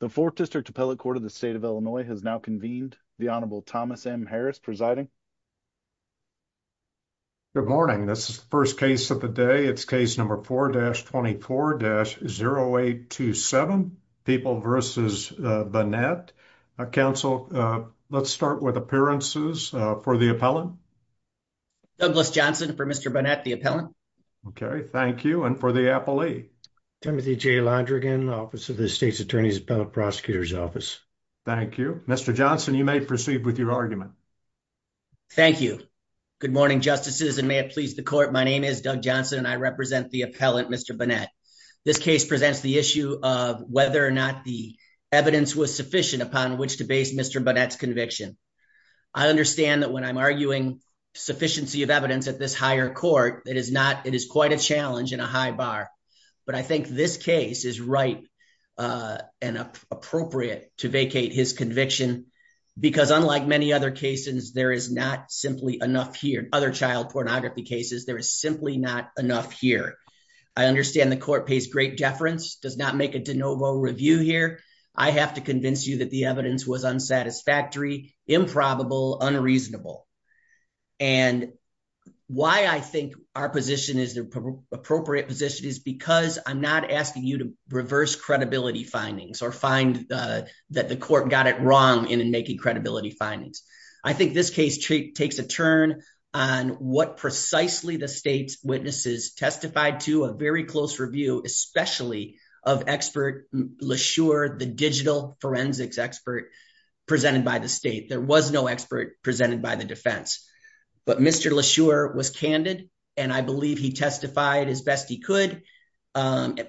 The 4th District Appellate Court of the State of Illinois has now convened. The Honorable Thomas M. Harris presiding. Good morning. This is the first case of the day. It's case number 4-24-0827, People v. Bonnette. Counsel, let's start with appearances for the appellant. Douglas Johnson for Mr. Bonnette, the appellant. Okay, thank you. And for the appellee? Timothy J. Londrigan, Office of the State's Attorney's Appellate Prosecutor's Office. Thank you. Mr. Johnson, you may proceed with your argument. Thank you. Good morning, Justices, and may it please the Court, my name is Doug Johnson and I represent the appellant, Mr. Bonnette. This case presents the issue of whether or not the evidence was sufficient upon which to base Mr. Bonnette's conviction. I understand that when I'm arguing sufficiency of evidence at this higher court, it is quite a challenge and a high bar. But I think this case is right and appropriate to vacate his conviction because unlike many other cases, there is not simply enough here. Other child pornography cases, there is simply not enough here. I understand the court pays great deference, does not make a de novo review here. I have to convince you that the evidence was unsatisfactory, improbable, unreasonable. And why I think our position is the appropriate position is because I'm not asking you to reverse credibility findings or find that the court got it wrong in making credibility findings. I think this case takes a turn on what precisely the state's witnesses testified to a very close review, especially of expert Lashore, the digital forensics expert presented by the state. There was no expert presented by the defense, but Mr. Lashore was candid and I believe he testified as best he could and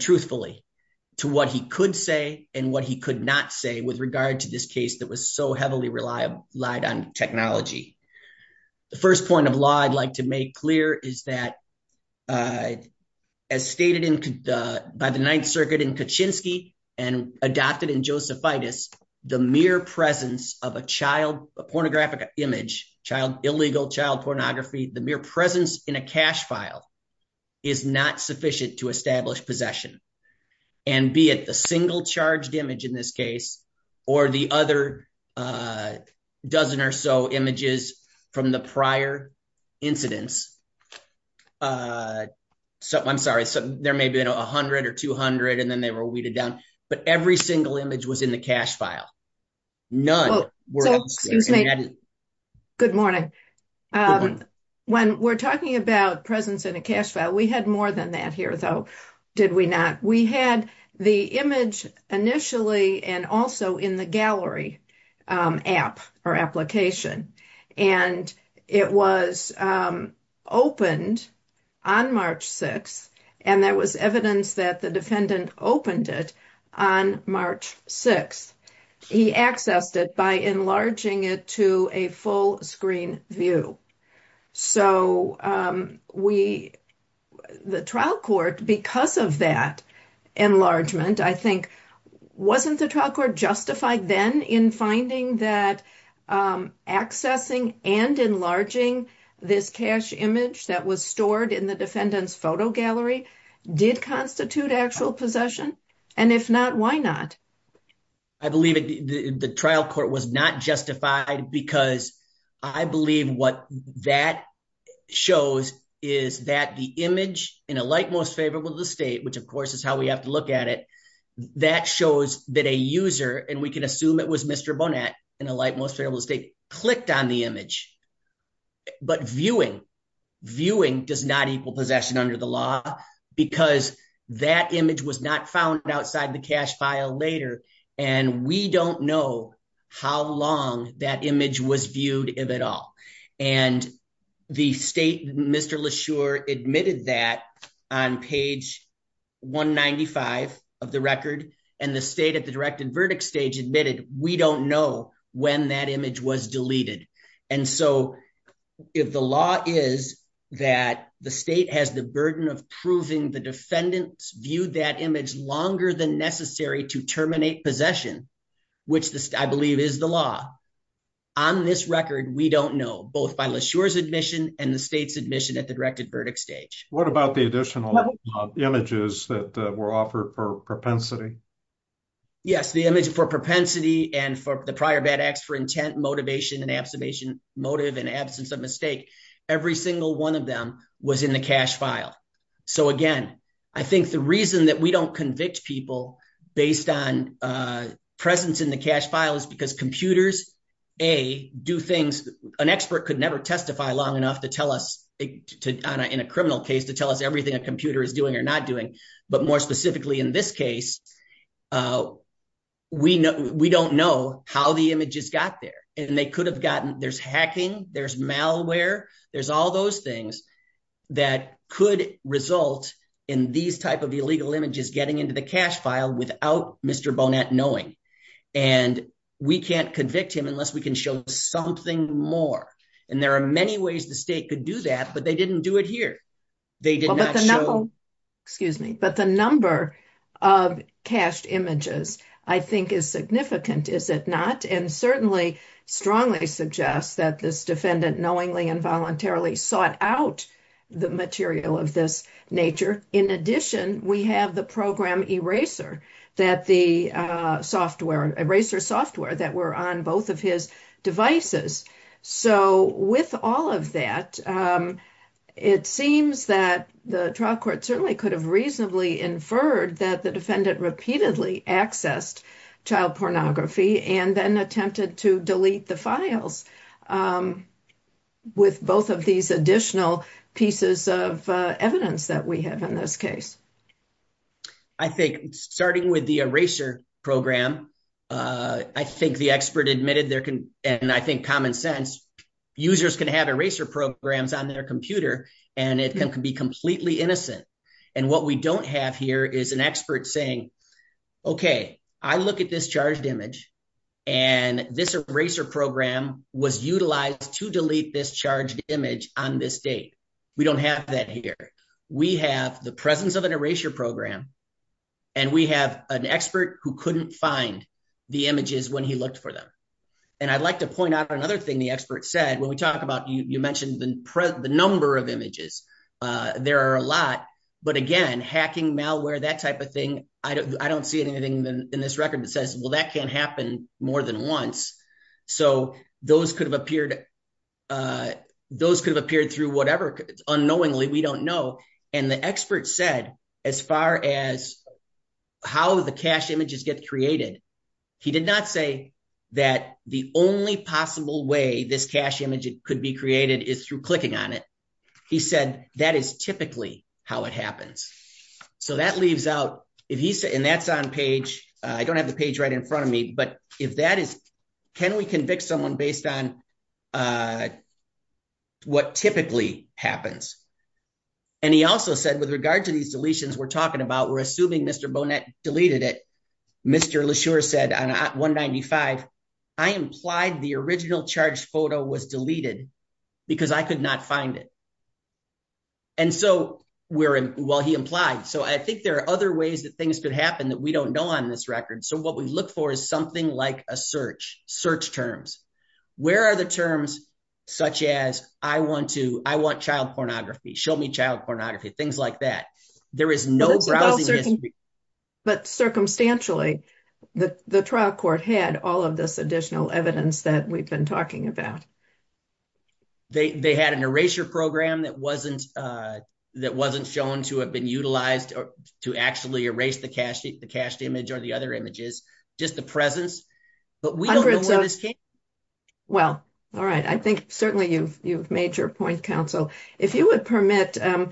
truthfully to what he could say and what he could not say with regard to this case that was so heavily relied on technology. The first point of law I'd like to make clear is that as stated by the Ninth Circuit in Kaczynski and adopted in Josephitis, the mere presence of a child, a pornographic image, child, illegal child pornography, the mere presence in a cash file is not sufficient to establish possession. And be it the single charged image in this case or the other dozen or so images from the prior incidents, I'm sorry, there may have been 100 or 200 and then they were weeded down, but every single image was in the cash file. None were. Good morning. When we're talking about presence in a cash file, we had more than that here though, did we not? We had the image initially and also in the gallery app or application and it was opened on March 6th and there was evidence that the defendant opened it on March 6th. He accessed it by enlarging it to a full screen view. So the trial court, because of that enlargement, I think, wasn't the trial court justified then in finding that accessing and enlarging this cash image that was stored in the defendant's photo gallery did constitute actual possession? And if not, why not? I believe the trial court was not justified because I believe what that shows is that the image in a like most favorable to the state, which of course is how we have to look at it, that shows that a user, and we can assume it was Mr. Bonat in a like most favorable state, clicked on the image. But viewing, viewing does not equal possession under the law because that image was not found outside the cash file later and we don't know how long that image was viewed, if at all. And the state, Mr. Leshurr, admitted that on page 195 of the record and the state at the directed verdict stage admitted we don't know when that was deleted. And so if the law is that the state has the burden of proving the defendants viewed that image longer than necessary to terminate possession, which I believe is the law, on this record we don't know, both by Leshurr's admission and the state's admission at the directed verdict stage. What about the additional images that were offered for propensity? Yes, the image for propensity and for the prior bad acts for intent motivation and observation motive and absence of mistake, every single one of them was in the cash file. So again, I think the reason that we don't convict people based on presence in the cash file is because computers, A, do things an expert could never testify long enough to tell us, in a criminal case, to tell us everything a computer is doing or not doing. But more specifically in this case, uh, we know, we don't know how the images got there and they could have gotten, there's hacking, there's malware, there's all those things that could result in these type of illegal images getting into the cash file without Mr. Bonet knowing. And we can't convict him unless we can show something more. And there are many ways the state could do that, but they didn't do it here. They did not show... Excuse me. But the number of cashed images, I think is significant, is it not? And certainly strongly suggests that this defendant knowingly and voluntarily sought out the material of this nature. In addition, we have the program eraser that the software, eraser software that were on his devices. So with all of that, it seems that the trial court certainly could have reasonably inferred that the defendant repeatedly accessed child pornography and then attempted to delete the files with both of these additional pieces of evidence that we have in this case. I think starting with the eraser program, uh, I think the expert admitted there can, and I think common sense users can have eraser programs on their computer and it can be completely innocent. And what we don't have here is an expert saying, okay, I look at this charged image and this eraser program was utilized to delete this charged image on this date. We don't have that here. We have the presence of an eraser program and we have an expert who couldn't find the images when he looked for them. And I'd like to point out another thing the expert said, when we talk about, you mentioned the number of images, uh, there are a lot, but again, hacking malware, that type of thing, I don't see anything in this record that says, well, that can't happen more than once. So those could have appeared, uh, those could have appeared through whatever unknowingly, we don't know. And the expert said, as far as how the cache images get created, he did not say that the only possible way this cache image could be created is through clicking on it. He said, that is typically how it happens. So that leaves out if he said, and that's on page, I don't have the page right in front of me, but if that is, can we convict someone based on, uh, what typically happens. And he also said with regard to these deletions, we're talking about, we're assuming Mr. Bonet deleted it. Mr. LeSure said on 195, I implied the original charged photo was deleted because I could not find it. And so we're, well, he implied. So I think there are other ways that things could happen that we don't know on this record. So what we look for is something like a search, search terms. Where are the terms such as, I want to, I want child pornography, show me child pornography, things like that. There is no browsing history. But circumstantially, the, the trial court had all of this additional evidence that we've been talking about. They, they had an erasure program that wasn't, uh, that wasn't shown to have been present. Well, all right. I think certainly you've, you've made your point counsel. If you would permit, um,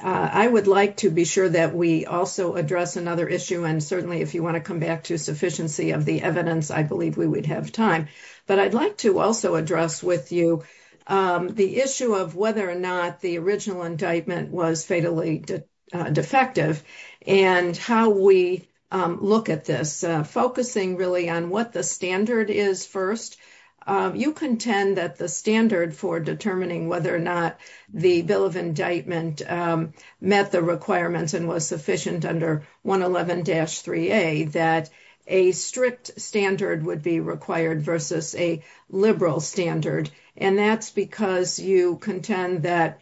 uh, I would like to be sure that we also address another issue. And certainly if you want to come back to sufficiency of the evidence, I believe we would have time, but I'd like to also address with you, um, the issue of whether or not the original indictment was fatally defective and how we, um, look at this, uh, focusing really on what the standard is first. Um, you contend that the standard for determining whether or not the bill of indictment, um, met the requirements and was sufficient under one 11 dash three, a, that a strict standard would be required versus a liberal standard. And that's because you contend that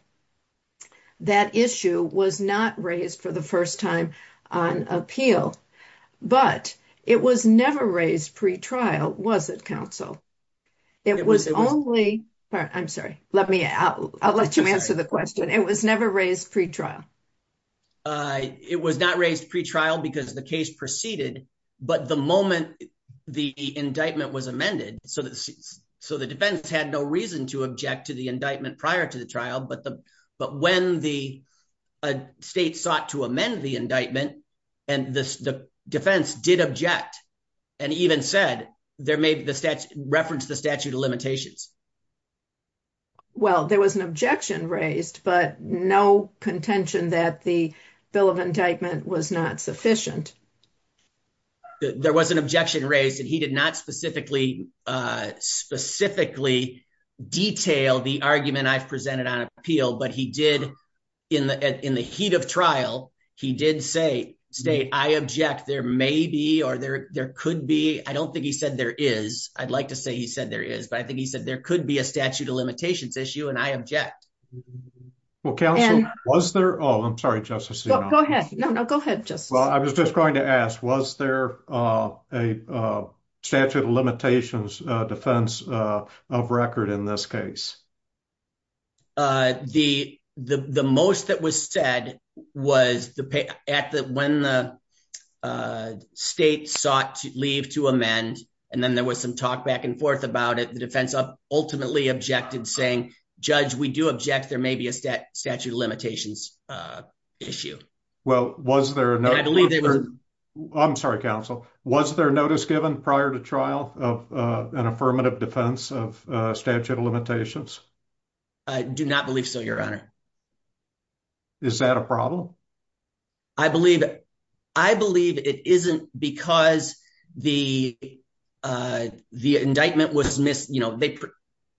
that issue was not raised for the first time on appeal, but it was never raised pre-trial, was it counsel? It was only, I'm sorry, let me, I'll, I'll let you answer the question. It was never raised pre-trial. Uh, it was not raised pre-trial because the case proceeded, but the moment the indictment was amended. So the, so the defense had no reason to object to the indictment prior to the trial, but the, but when the state sought to amend the indictment and this, the defense did object and even said there may be the stats referenced the statute of limitations. Well, there was an objection raised, but no contention that the bill of indictment was not sufficient. There was an objection raised and he did not specifically, uh, specifically detail the argument I've presented on appeal, but he did in the, in the heat of trial, he did say state, I object there may be, or there, there could be, I don't think he said there is, I'd like to say he said there is, but I think he said there could be a statute of limitations issue. And I object. Well, counsel, was there, oh, I'm sorry, just go ahead. No, no, go ahead. Just, well, I was just going to ask, was there, uh, a, uh, statute of limitations, uh, defense, uh, of record in this case? Uh, the, the, the most that was said was the pay at the, when the, uh, state sought to leave to amend, and then there was some talk back and forth about it. The defense ultimately objected saying, judge, we do object. There may be a stat statute of limitations, uh, issue. Well, was there a, I'm sorry, counsel, was there a notice given prior to trial of, uh, an affirmative defense of, uh, statute of limitations? I do not believe so, your honor. Is that a problem? I believe, I believe it isn't because the, uh, the indictment was missed, you know, they,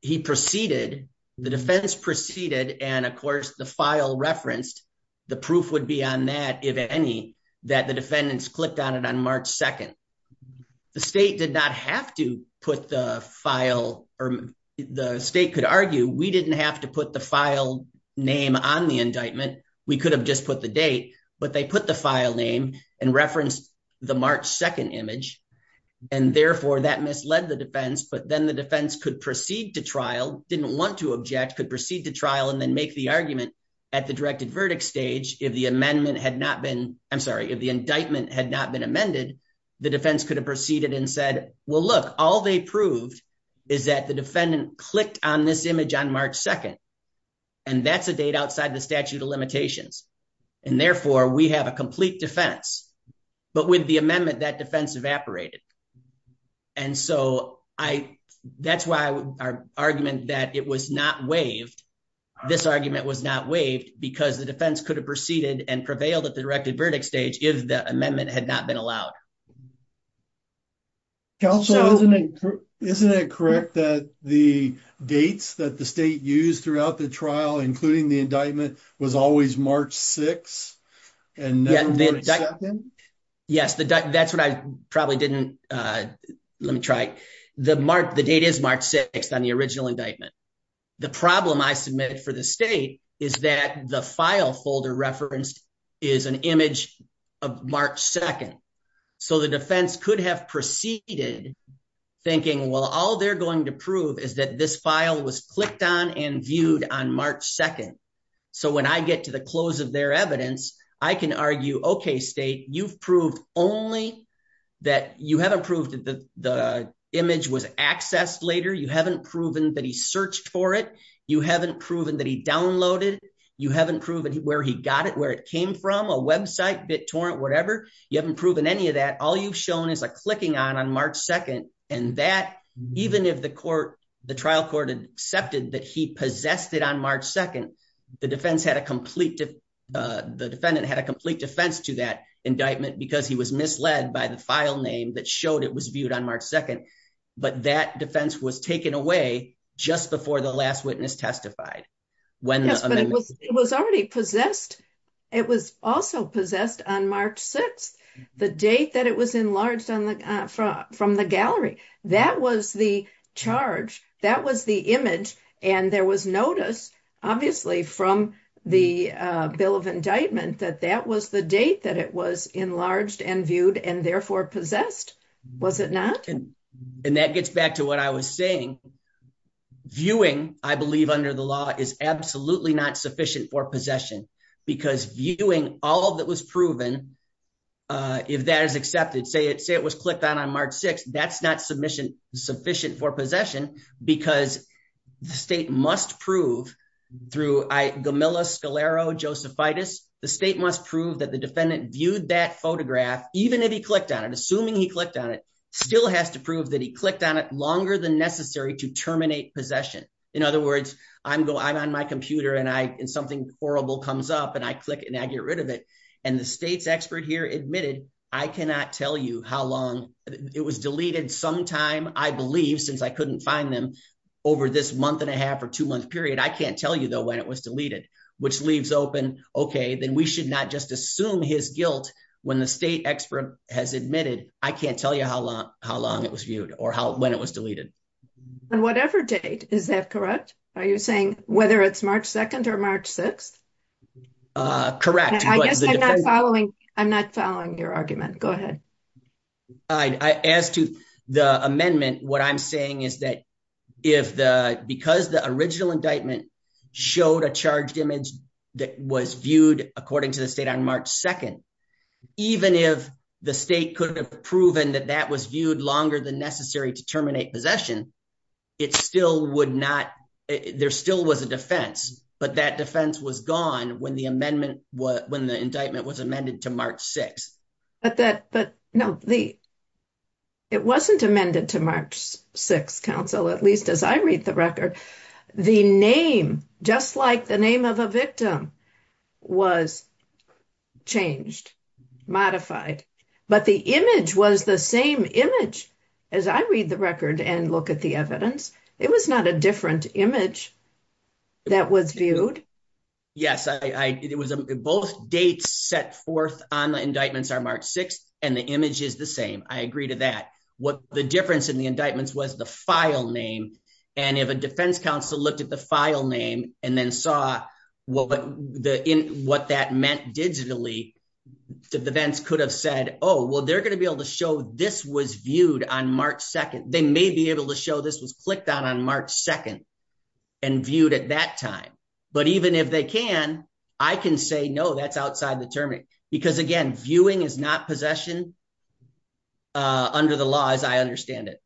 he proceeded, the defense proceeded, and of course the file referenced, the proof would be on that, if any, that the defendants clicked on it on March 2nd. The state did not have to put the file, or the state could argue, we didn't have to put the file name on the indictment, we could have just put the date, but they put the file name and referenced the March 2nd image, and therefore that misled the defense, but then the defense could proceed to trial, didn't want to object, could proceed to trial, and then make the argument at the directed verdict stage, if the amendment had not been, I'm sorry, if the indictment had not been amended, the defense could have proceeded and said, well, look, all they proved is that the defendant clicked on this image on March 2nd, and that's a date outside the statute of limitations, and therefore we have a complete defense, but with the amendment, that defense evaporated, and so I, that's why our argument that it was not waived, this argument was not waived, because the defense could have proceeded and prevailed at the directed verdict stage, if the amendment had not been allowed. Counselor, isn't it, isn't it correct that the dates that the state used throughout the trial, including the indictment, was always March 6th, and not March 2nd? Yes, that's what I probably didn't, let me try, the date is March 6th on the original indictment. The problem I submitted for the state is that the file folder referenced is an image of March 2nd, so the defense could have proceeded thinking, well, all they're going to prove is that this file was clicked on and viewed on March 2nd, so when I get to the close of their evidence, I can argue, okay, state, you've proved only that you haven't proved that the image was accessed later, you haven't proven that he searched for it, you haven't proven that he downloaded, you haven't proven where he got it, where it came from, a website, BitTorrent, whatever, you haven't proven any of that, all you've shown is a clicking on on March 2nd, and that, even if the court, the trial court had accepted that he possessed it on March 2nd, the defense had a complete, the defendant had a complete defense to that indictment, because he was misled by the file name that showed it was viewed on March 2nd, but that defense was taken away just before the last witness testified. Yes, but it was already possessed, it was also possessed on March 6th, the date that it was enlarged from the gallery, that was the charge, that was the image, and there was notice, obviously, from the bill of indictment, that that was the date that it was enlarged and viewed, and therefore possessed, was it not? And that gets back to what I was saying, viewing, I believe under the law, is absolutely not sufficient for possession, because viewing all that was proven, if that is accepted, say it was clicked on on March 6th, that's not sufficient for possession, because the state must prove, through Gamilla, Scalero, Josephitis, the state must prove that the defendant viewed that photograph, even if he clicked on it, assuming he clicked on it, still has to prove that he clicked on it longer than necessary to terminate possession. In other words, I'm on my computer, and something horrible comes up, and I click it, and I get rid of it, and the state's expert here admitted, I cannot tell you how long, it was deleted sometime, I believe, since I couldn't find them, over this month and a half or two month period, I can't tell you though when it was deleted, which leaves open, okay, then we should not just assume his guilt, when the state expert has admitted, I can't tell you how long it was viewed, or when it was deleted. On whatever date, is that correct? Are you saying whether it's March 2nd or March 6th? Correct. I'm not following your argument, go ahead. As to the amendment, what I'm saying is that, because the original indictment showed a charged image that was viewed according to the state on March 2nd, even if the state could have proven that that was viewed longer than necessary to terminate possession, it still would not, there still was a defense, but that defense was gone when the amendment, when the indictment was amended to March 6th. But that, but no, the, it wasn't amended to March 6th at least as I read the record. The name, just like the name of a victim, was changed, modified, but the image was the same image as I read the record and look at the evidence. It was not a different image that was viewed. Yes, I, it was both dates set forth on the indictments are March 6th and the image is the same. I agree to that. What the difference in indictments was the file name. And if a defense counsel looked at the file name and then saw what that meant digitally, the defense could have said, oh, well, they're going to be able to show this was viewed on March 2nd. They may be able to show this was clicked on, on March 2nd and viewed at that time. But even if they can, I can say, no, that's outside the term. Because again, viewing is not possession, uh, under the law as I understand it.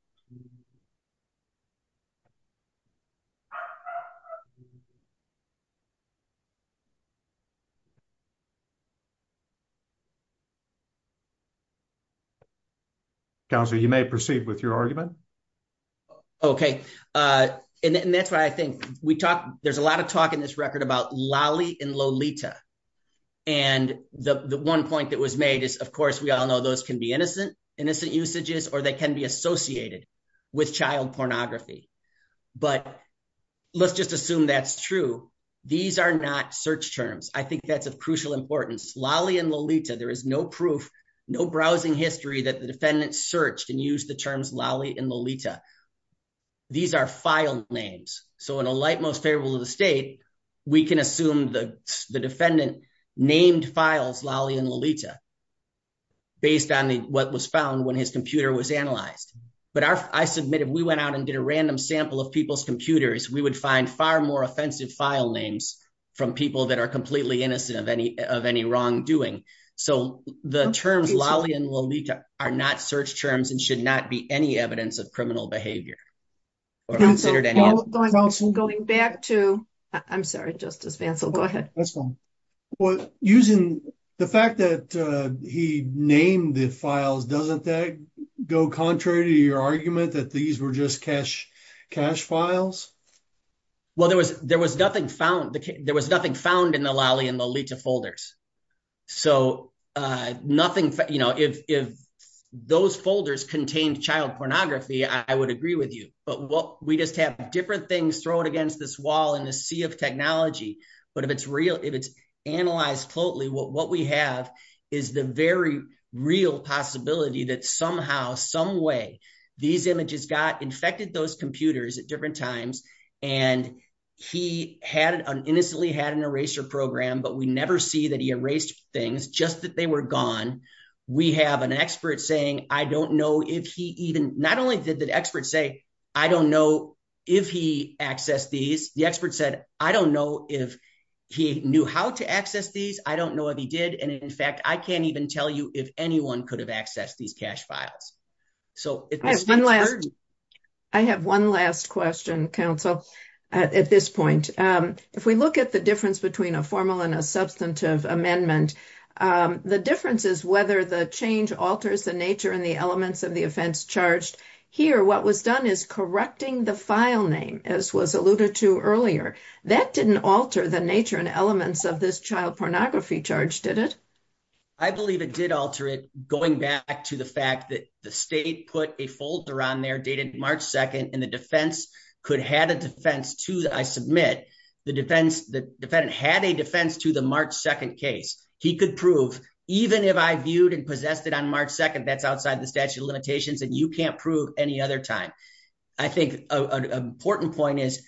Counselor, you may proceed with your argument. Okay. Uh, and that's why I think we talk, there's a lot of talk in this record about Lolly and Lolita. And the one point that was made is, of course, we all know those can be innocent, innocent usages, or they can be associated with child pornography, but let's just assume that's true. These are not search terms. I think that's of crucial importance. Lolly and Lolita, there is no proof, no browsing history that the defendant searched and use the terms Lolly and Lolita. These are file names. So in a light, most favorable to the state, we can assume the defendant named files, Lolly and Lolita based on what was found when his computer was analyzed. But our, I submitted, we went out and did a random sample of people's computers. We would find far more offensive file names from people that are completely innocent of any, of any wrongdoing. So the terms, Lolly and Lolita are not search terms and should not be any evidence of criminal behavior or considered. Going back to, I'm sorry, Justice Vancell, go ahead. Well, using the fact that he named the files, doesn't that go contrary to your argument that these were just cash files? Well, there was nothing found, there was nothing found in the Lolly and Lolita folders. So nothing, you know, if those folders contained child pornography, I would agree with you, but what we just have different things thrown against this wall in the sea of technology. But if it's real, if it's analyzed totally, what we have is the very real possibility that somehow, some way these images got infected those computers at different times. And he had an innocently had an eraser program, but we never see that he erased things just that were gone. We have an expert saying, I don't know if he even, not only did the experts say, I don't know if he accessed these, the expert said, I don't know if he knew how to access these. I don't know if he did. And in fact, I can't even tell you if anyone could have accessed these cash files. So I have one last question, counsel, at this point, if we look at the difference between a formal and a substantive amendment, the differences, whether the change alters the nature and the elements of the offense charged here, what was done is correcting the file name, as was alluded to earlier, that didn't alter the nature and elements of this child pornography charge, did it? I believe it did alter it going back to the fact that the state put a folder on there dated March 2nd, and the defense could have a defense to that. I submit the defense, the defendant had a defense to the March 2nd case. He could prove even if I viewed and possessed it on March 2nd, that's outside the statute of limitations and you can't prove any other time. I think an important point is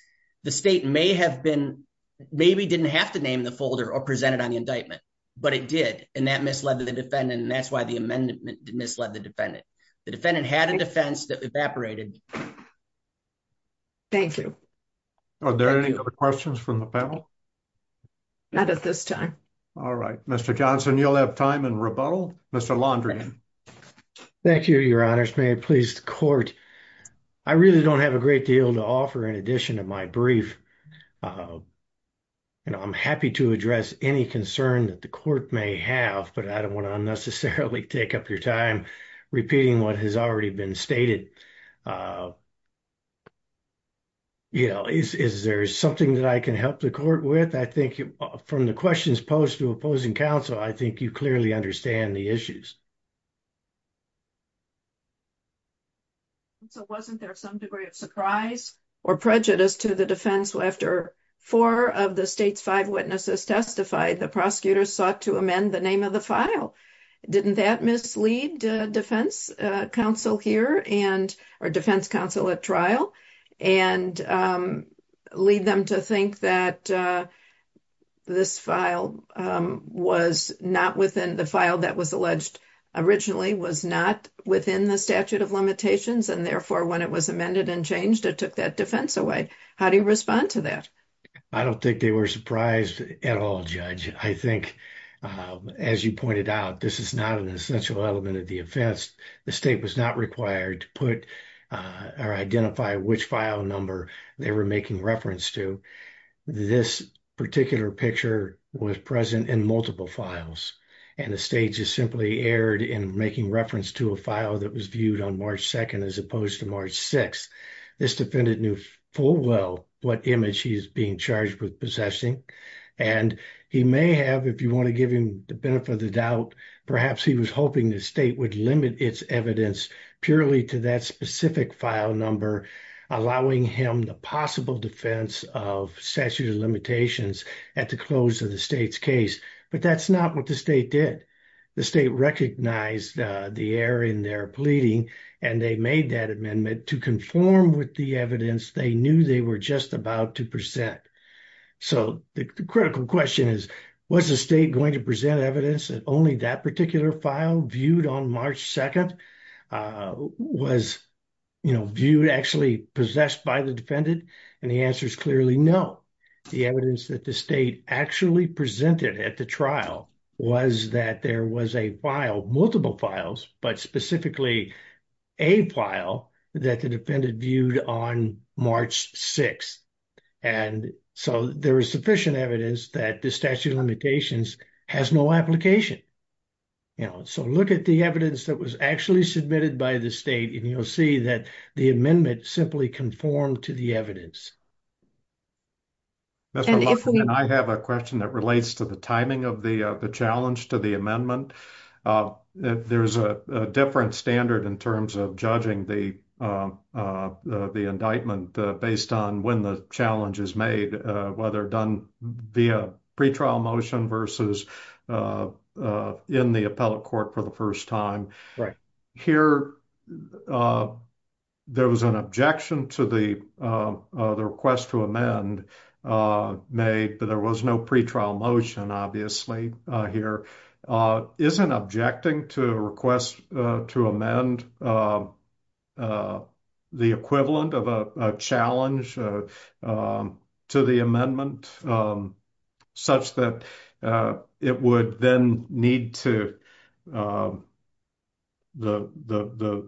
the state may have been, maybe didn't have to name the folder or present it on the indictment, but it did. And that misled the defendant. And that's why the amendment misled the defendant. The defendant had a defense that evaporated. Thank you. Are there any other questions from the panel? Not at this time. All right, Mr. Johnson, you'll have time in rebuttal. Mr. Londrian. Thank you, your honors. May it please the court. I really don't have a great deal to offer in addition to my brief. You know, I'm happy to address any concern that the court may have, but I don't want to unnecessarily take up your time repeating what has already been stated. You know, is there something that I can help the court with? I think from the questions posed to opposing counsel, I think you clearly understand the issues. So wasn't there some degree of surprise or prejudice to the defense after four of the state's five witnesses testified, the prosecutors sought to amend the name of the file. Didn't that mislead defense counsel here and our defense counsel at trial and lead them to think that this file was not within the file that was alleged originally was not within the statute of limitations. And therefore, when it was amended and changed, it took that defense away. How do you respond to that? I don't think they were surprised at all, judge. I think as you pointed out, this is not an essential element of the offense. The state was not required to put or identify which file number they were making reference to. This particular picture was present in multiple files, and the state just simply erred in making reference to a file that was what image he is being charged with possessing. And he may have, if you want to give him the benefit of the doubt, perhaps he was hoping the state would limit its evidence purely to that specific file number, allowing him the possible defense of statute of limitations at the close of the state's case. But that's not what the state did. The state recognized the error in their about to present. So the critical question is, was the state going to present evidence that only that particular file viewed on March 2nd was viewed actually possessed by the defendant? And the answer is clearly no. The evidence that the state actually presented at the trial was that there was a file, multiple files, but specifically a file that the defendant viewed on March 6th. And so there is sufficient evidence that the statute of limitations has no application. You know, so look at the evidence that was actually submitted by the state, and you'll see that the amendment simply conformed to the evidence. I have a question that relates to the timing of the challenge to the amendment. There's a different standard in terms of judging the indictment based on when the challenge is made, whether done via pretrial motion versus in the appellate court for the first time. Here, there was an objection to the request to amend made, but there was no pretrial motion, obviously, here. Is an objecting to request to amend the equivalent of a challenge to the amendment such that it would then need to, the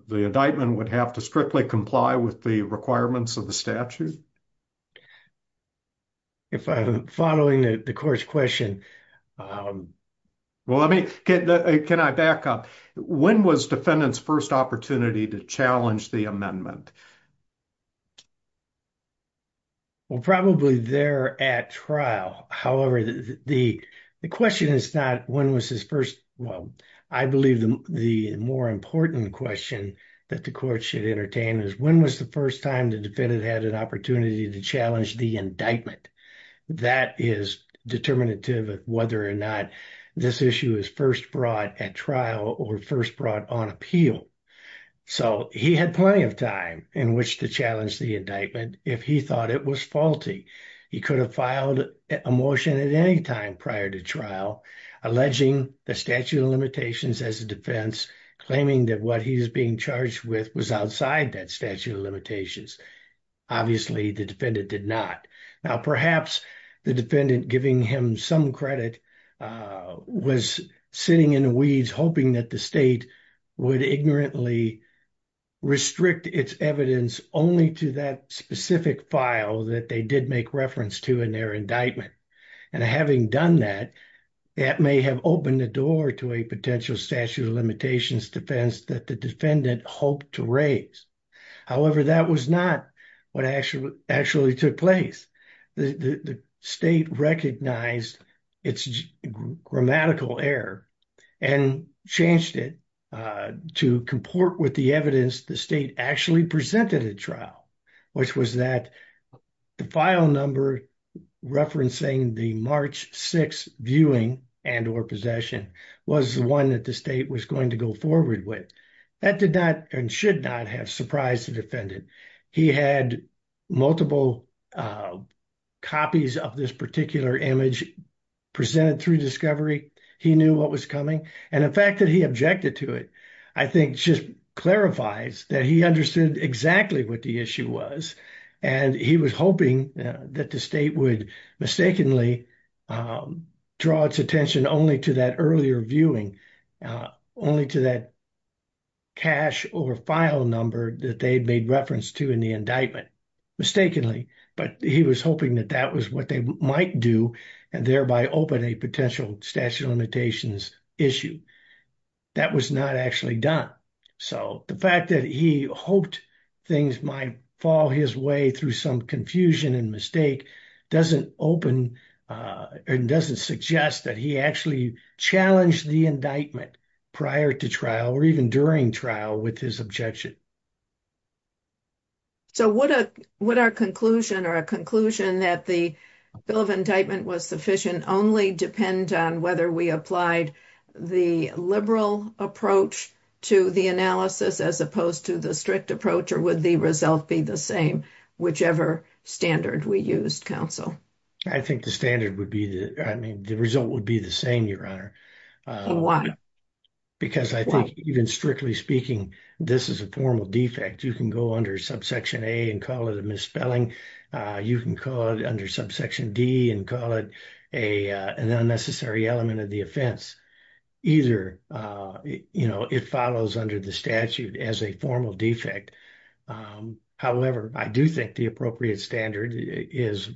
indictment would have to strictly comply with the requirements of the statute? If I'm following the court's question. Well, let me, can I back up? When was defendant's first opportunity to challenge the amendment? Well, probably there at trial. However, the question is not when was his first, well, I believe the more important question that the court should entertain is when was the first time the defendant had an opportunity to challenge the indictment? That is determinative of whether or not this issue is first brought at trial or first brought on appeal. So he had plenty of time in which to challenge the indictment if he thought it was faulty. He could have filed a motion at any time prior to trial, alleging the statute of limitations as a defense, claiming that what he's being charged with was outside that statute of limitations. Obviously, the defendant did not. Now, perhaps the defendant giving him some credit was sitting in the weeds, hoping that the state would ignorantly restrict its evidence only to that specific file that they did make reference to in their indictment. And having done that, that may have opened the door to a potential statute of limitations defense that the defendant hoped to raise. However, that was not what actually took place. The state recognized its grammatical error and changed it to comport with the evidence the state actually presented at trial, which was that the file number referencing the March 6th viewing and or possession was the one that the state was going to go forward with. That did not and should not have surprised the defendant. He had multiple copies of this particular image presented through discovery. He knew what was coming. And the fact that he objected to it, I think just clarifies that he understood exactly what the issue was. And he was hoping that the state would mistakenly draw its attention only to that earlier viewing, only to that cash or file number that they'd made reference to in the indictment, mistakenly. But he was hoping that that was what they might do, and thereby open a potential statute of limitations issue. That was not actually done. So the fact that he hoped things might fall his way through some confusion and mistake doesn't open and doesn't suggest that he actually challenged the indictment prior to trial or even during trial with his objection. So would our conclusion or a conclusion that the bill of indictment was sufficient only depend on we applied the liberal approach to the analysis as opposed to the strict approach, or would the result be the same, whichever standard we used, counsel? I think the standard would be, I mean, the result would be the same, Your Honor. Why? Because I think even strictly speaking, this is a formal defect. You can go under subsection A and call it a misspelling. You can call it under subsection D and call it an unnecessary element of the offense. Either it follows under the statute as a formal defect. However, I do think the appropriate standard is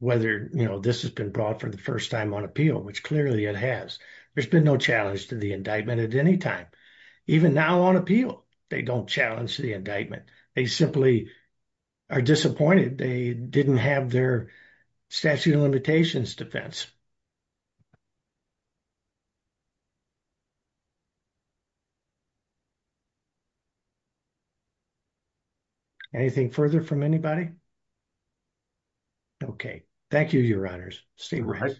whether this has been brought for the first time on appeal, which clearly it has. There's been no challenge to the indictment at any time. Even now on appeal, they don't challenge the indictment. They simply are disappointed they didn't have their statute of limitations defense. Anything further from anybody? Okay. Thank you, Your Honors. Stay right.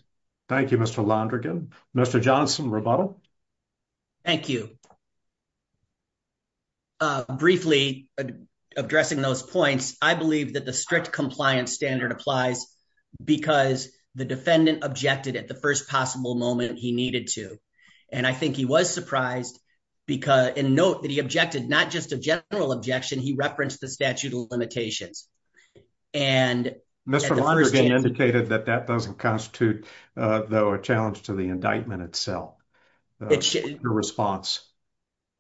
Thank you, Mr. Londrigan. Mr. Johnson, rebuttal. Thank you. Briefly, addressing those points, I believe that the strict compliance standard applies because the defendant objected at the first possible moment he needed to. And I think he was surprised, and note that he objected not just a general objection, he referenced the statute of limitations. Mr. Londrigan indicated that that doesn't constitute, though, a challenge to the response.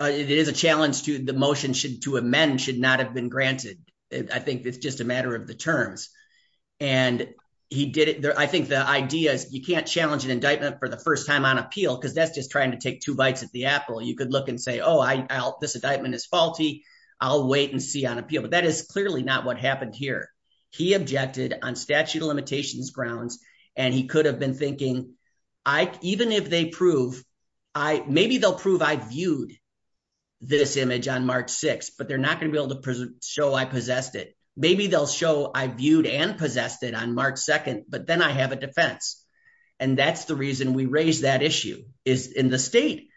It is a challenge to the motion to amend should not have been granted. I think it's just a matter of the terms. And I think the idea is you can't challenge an indictment for the first time on appeal because that's just trying to take two bites at the apple. You could look and say, oh, this indictment is faulty. I'll wait and see on appeal. But that is clearly not what happened here. He objected on statute of limitations grounds, and he could maybe they'll prove I viewed this image on March 6th, but they're not going to be able to show I possessed it. Maybe they'll show I viewed and possessed it on March 2nd, but then I have a defense. And that's the reason we raised that issue is in the state,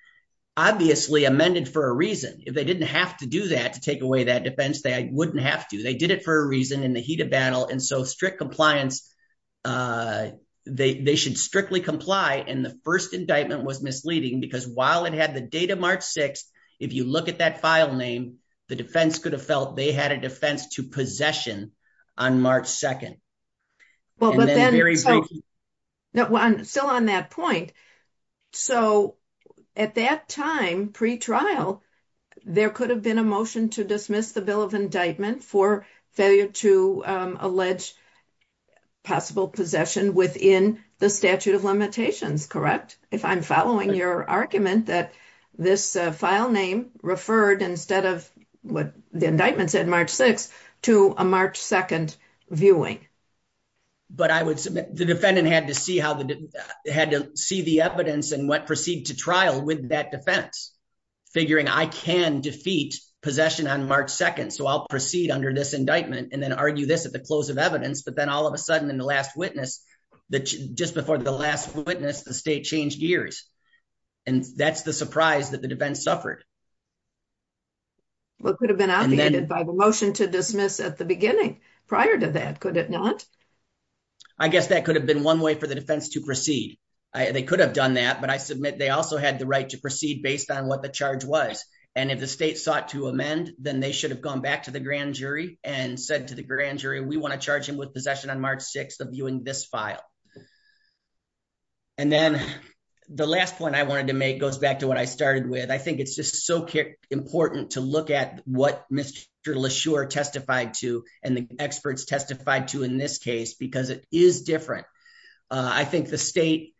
obviously amended for a reason. If they didn't have to do that to take away that defense, they wouldn't have to. They did it for a reason in the heat of battle. And so strict compliance, uh, they, they should strictly comply. And the first indictment was misleading because while it had the date of March 6th, if you look at that file name, the defense could have felt they had a defense to possession on March 2nd. I'm still on that point. So at that time, pre-trial, there could have been a motion to dismiss the bill of indictment for failure to, um, allege possible possession within the statute of limitations, correct? If I'm following your argument that this, uh, file name referred, instead of what the indictment said, March 6th to a March 2nd viewing. But I would submit the defendant had to see how they had to see the evidence and what trial with that defense figuring I can defeat possession on March 2nd. So I'll proceed under this indictment and then argue this at the close of evidence. But then all of a sudden, in the last witness that just before the last witness, the state changed gears and that's the surprise that the defense suffered. What could have been out the ended by the motion to dismiss at the beginning prior to that, could it not? I guess that could have been one way for the defense to proceed. They could have done that, but I submit they also had the right to proceed based on what the charge was. And if the state sought to amend, then they should have gone back to the grand jury and said to the grand jury, we want to charge him with possession on March 6th of viewing this file. And then the last point I wanted to make goes back to what I started with. I think it's just so important to look at what Mr. LaSure testified to and the experts testified to in this case, because it is different. I think the state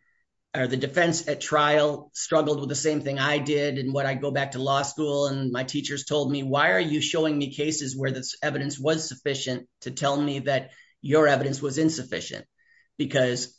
or the defense at trial struggled with the same thing I did. And when I go back to law school and my teachers told me, why are you showing me cases where this evidence was sufficient to tell me that your evidence was insufficient? Because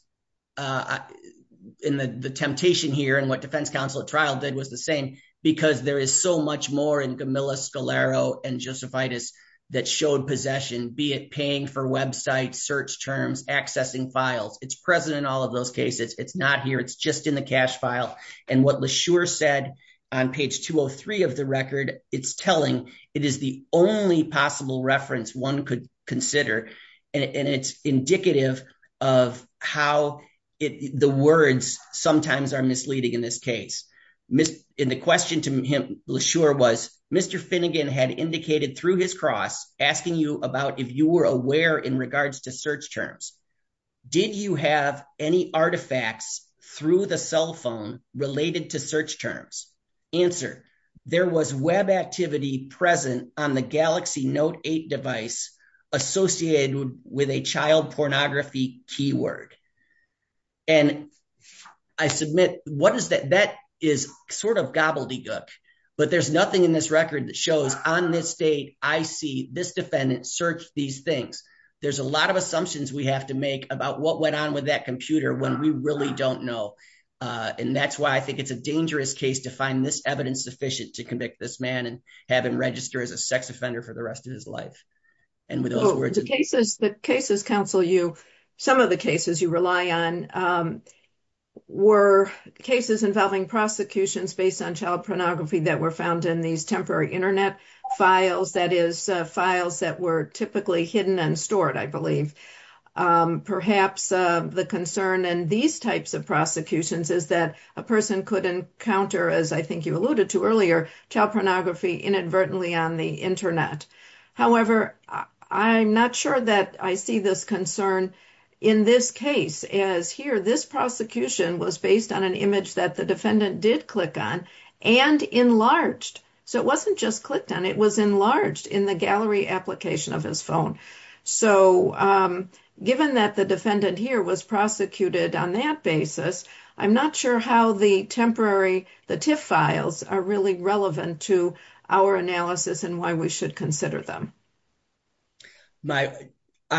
the temptation here and what defense counsel at trial did was the same, because there is so much in Gamilla, Scalero, and Josephitis that showed possession, be it paying for websites, search terms, accessing files. It's present in all of those cases. It's not here. It's just in the cash file. And what LaSure said on page 203 of the record, it's telling. It is the only possible reference one could consider. And it's indicative of how the words sometimes are misleading in this case. And the question to LaSure was, Mr. Finnegan had indicated through his cross asking you about if you were aware in regards to search terms. Did you have any artifacts through the cell phone related to search terms? Answer, there was web activity present on the Galaxy Note 8 device associated with a child pornography keyword. And I submit, that is sort of gobbledygook, but there's nothing in this record that shows on this date, I see this defendant search these things. There's a lot of assumptions we have to make about what went on with that computer when we really don't know. And that's why I think it's a dangerous case to find this evidence sufficient to convict this man and have him register as a sex offender for the rest of his life. The cases counsel you, some of the cases you rely on were cases involving prosecutions based on child pornography that were found in these temporary internet files, that is files that were typically hidden and stored, I believe. Perhaps the concern in these types of prosecutions is that a person could encounter, as I think you alluded to earlier, child pornography inadvertently on the internet. However, I'm not sure that I see this concern in this case, as here this prosecution was based on an image that the defendant did click on and enlarged. So it wasn't just clicked on, it was enlarged in the gallery application of his phone. So given that defendant here was prosecuted on that basis, I'm not sure how the temporary, the TIFF files are really relevant to our analysis and why we should consider them. My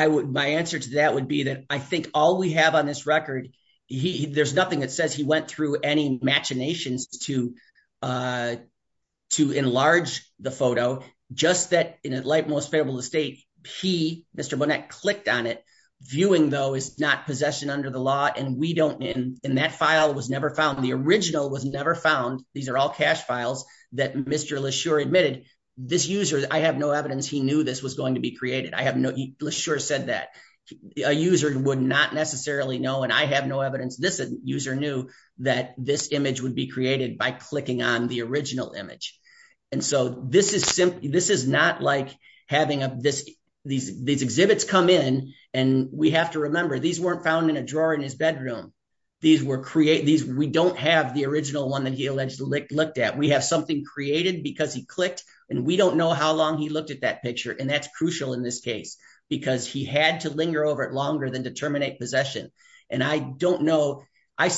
answer to that would be that I think all we have on this record, there's nothing that says he went through any machinations to enlarge the photo, just that in a light most favorable state, he, Mr. Bonnett clicked on it, viewing though is not possession under the law and we don't, and that file was never found, the original was never found, these are all cache files that Mr. Leshurr admitted, this user, I have no evidence he knew this was going to be created, I have no, Leshurr said that, a user would not necessarily know and I have no evidence this user knew that this image would be created by clicking on the original image. And so this is simply, this is not like having this, these exhibits come in and we have to remember these weren't found in a drawer in his bedroom, these were created, we don't have the original one that he allegedly looked at, we have something created because he clicked and we don't know how long he looked at that picture and that's crucial in this case because he had to linger over it longer than to terminate possession. And I don't know, I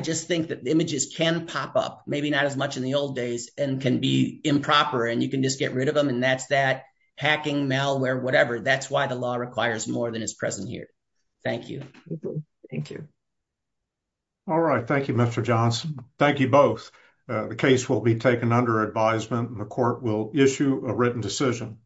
just think that images can pop up, maybe not as much in the old days and can be improper and you can get rid of them and that's that, hacking, malware, whatever, that's why the law requires more than is present here. Thank you. Thank you. All right, thank you Mr. Johnson. Thank you both. The case will be taken under advisement and the court will issue a written decision.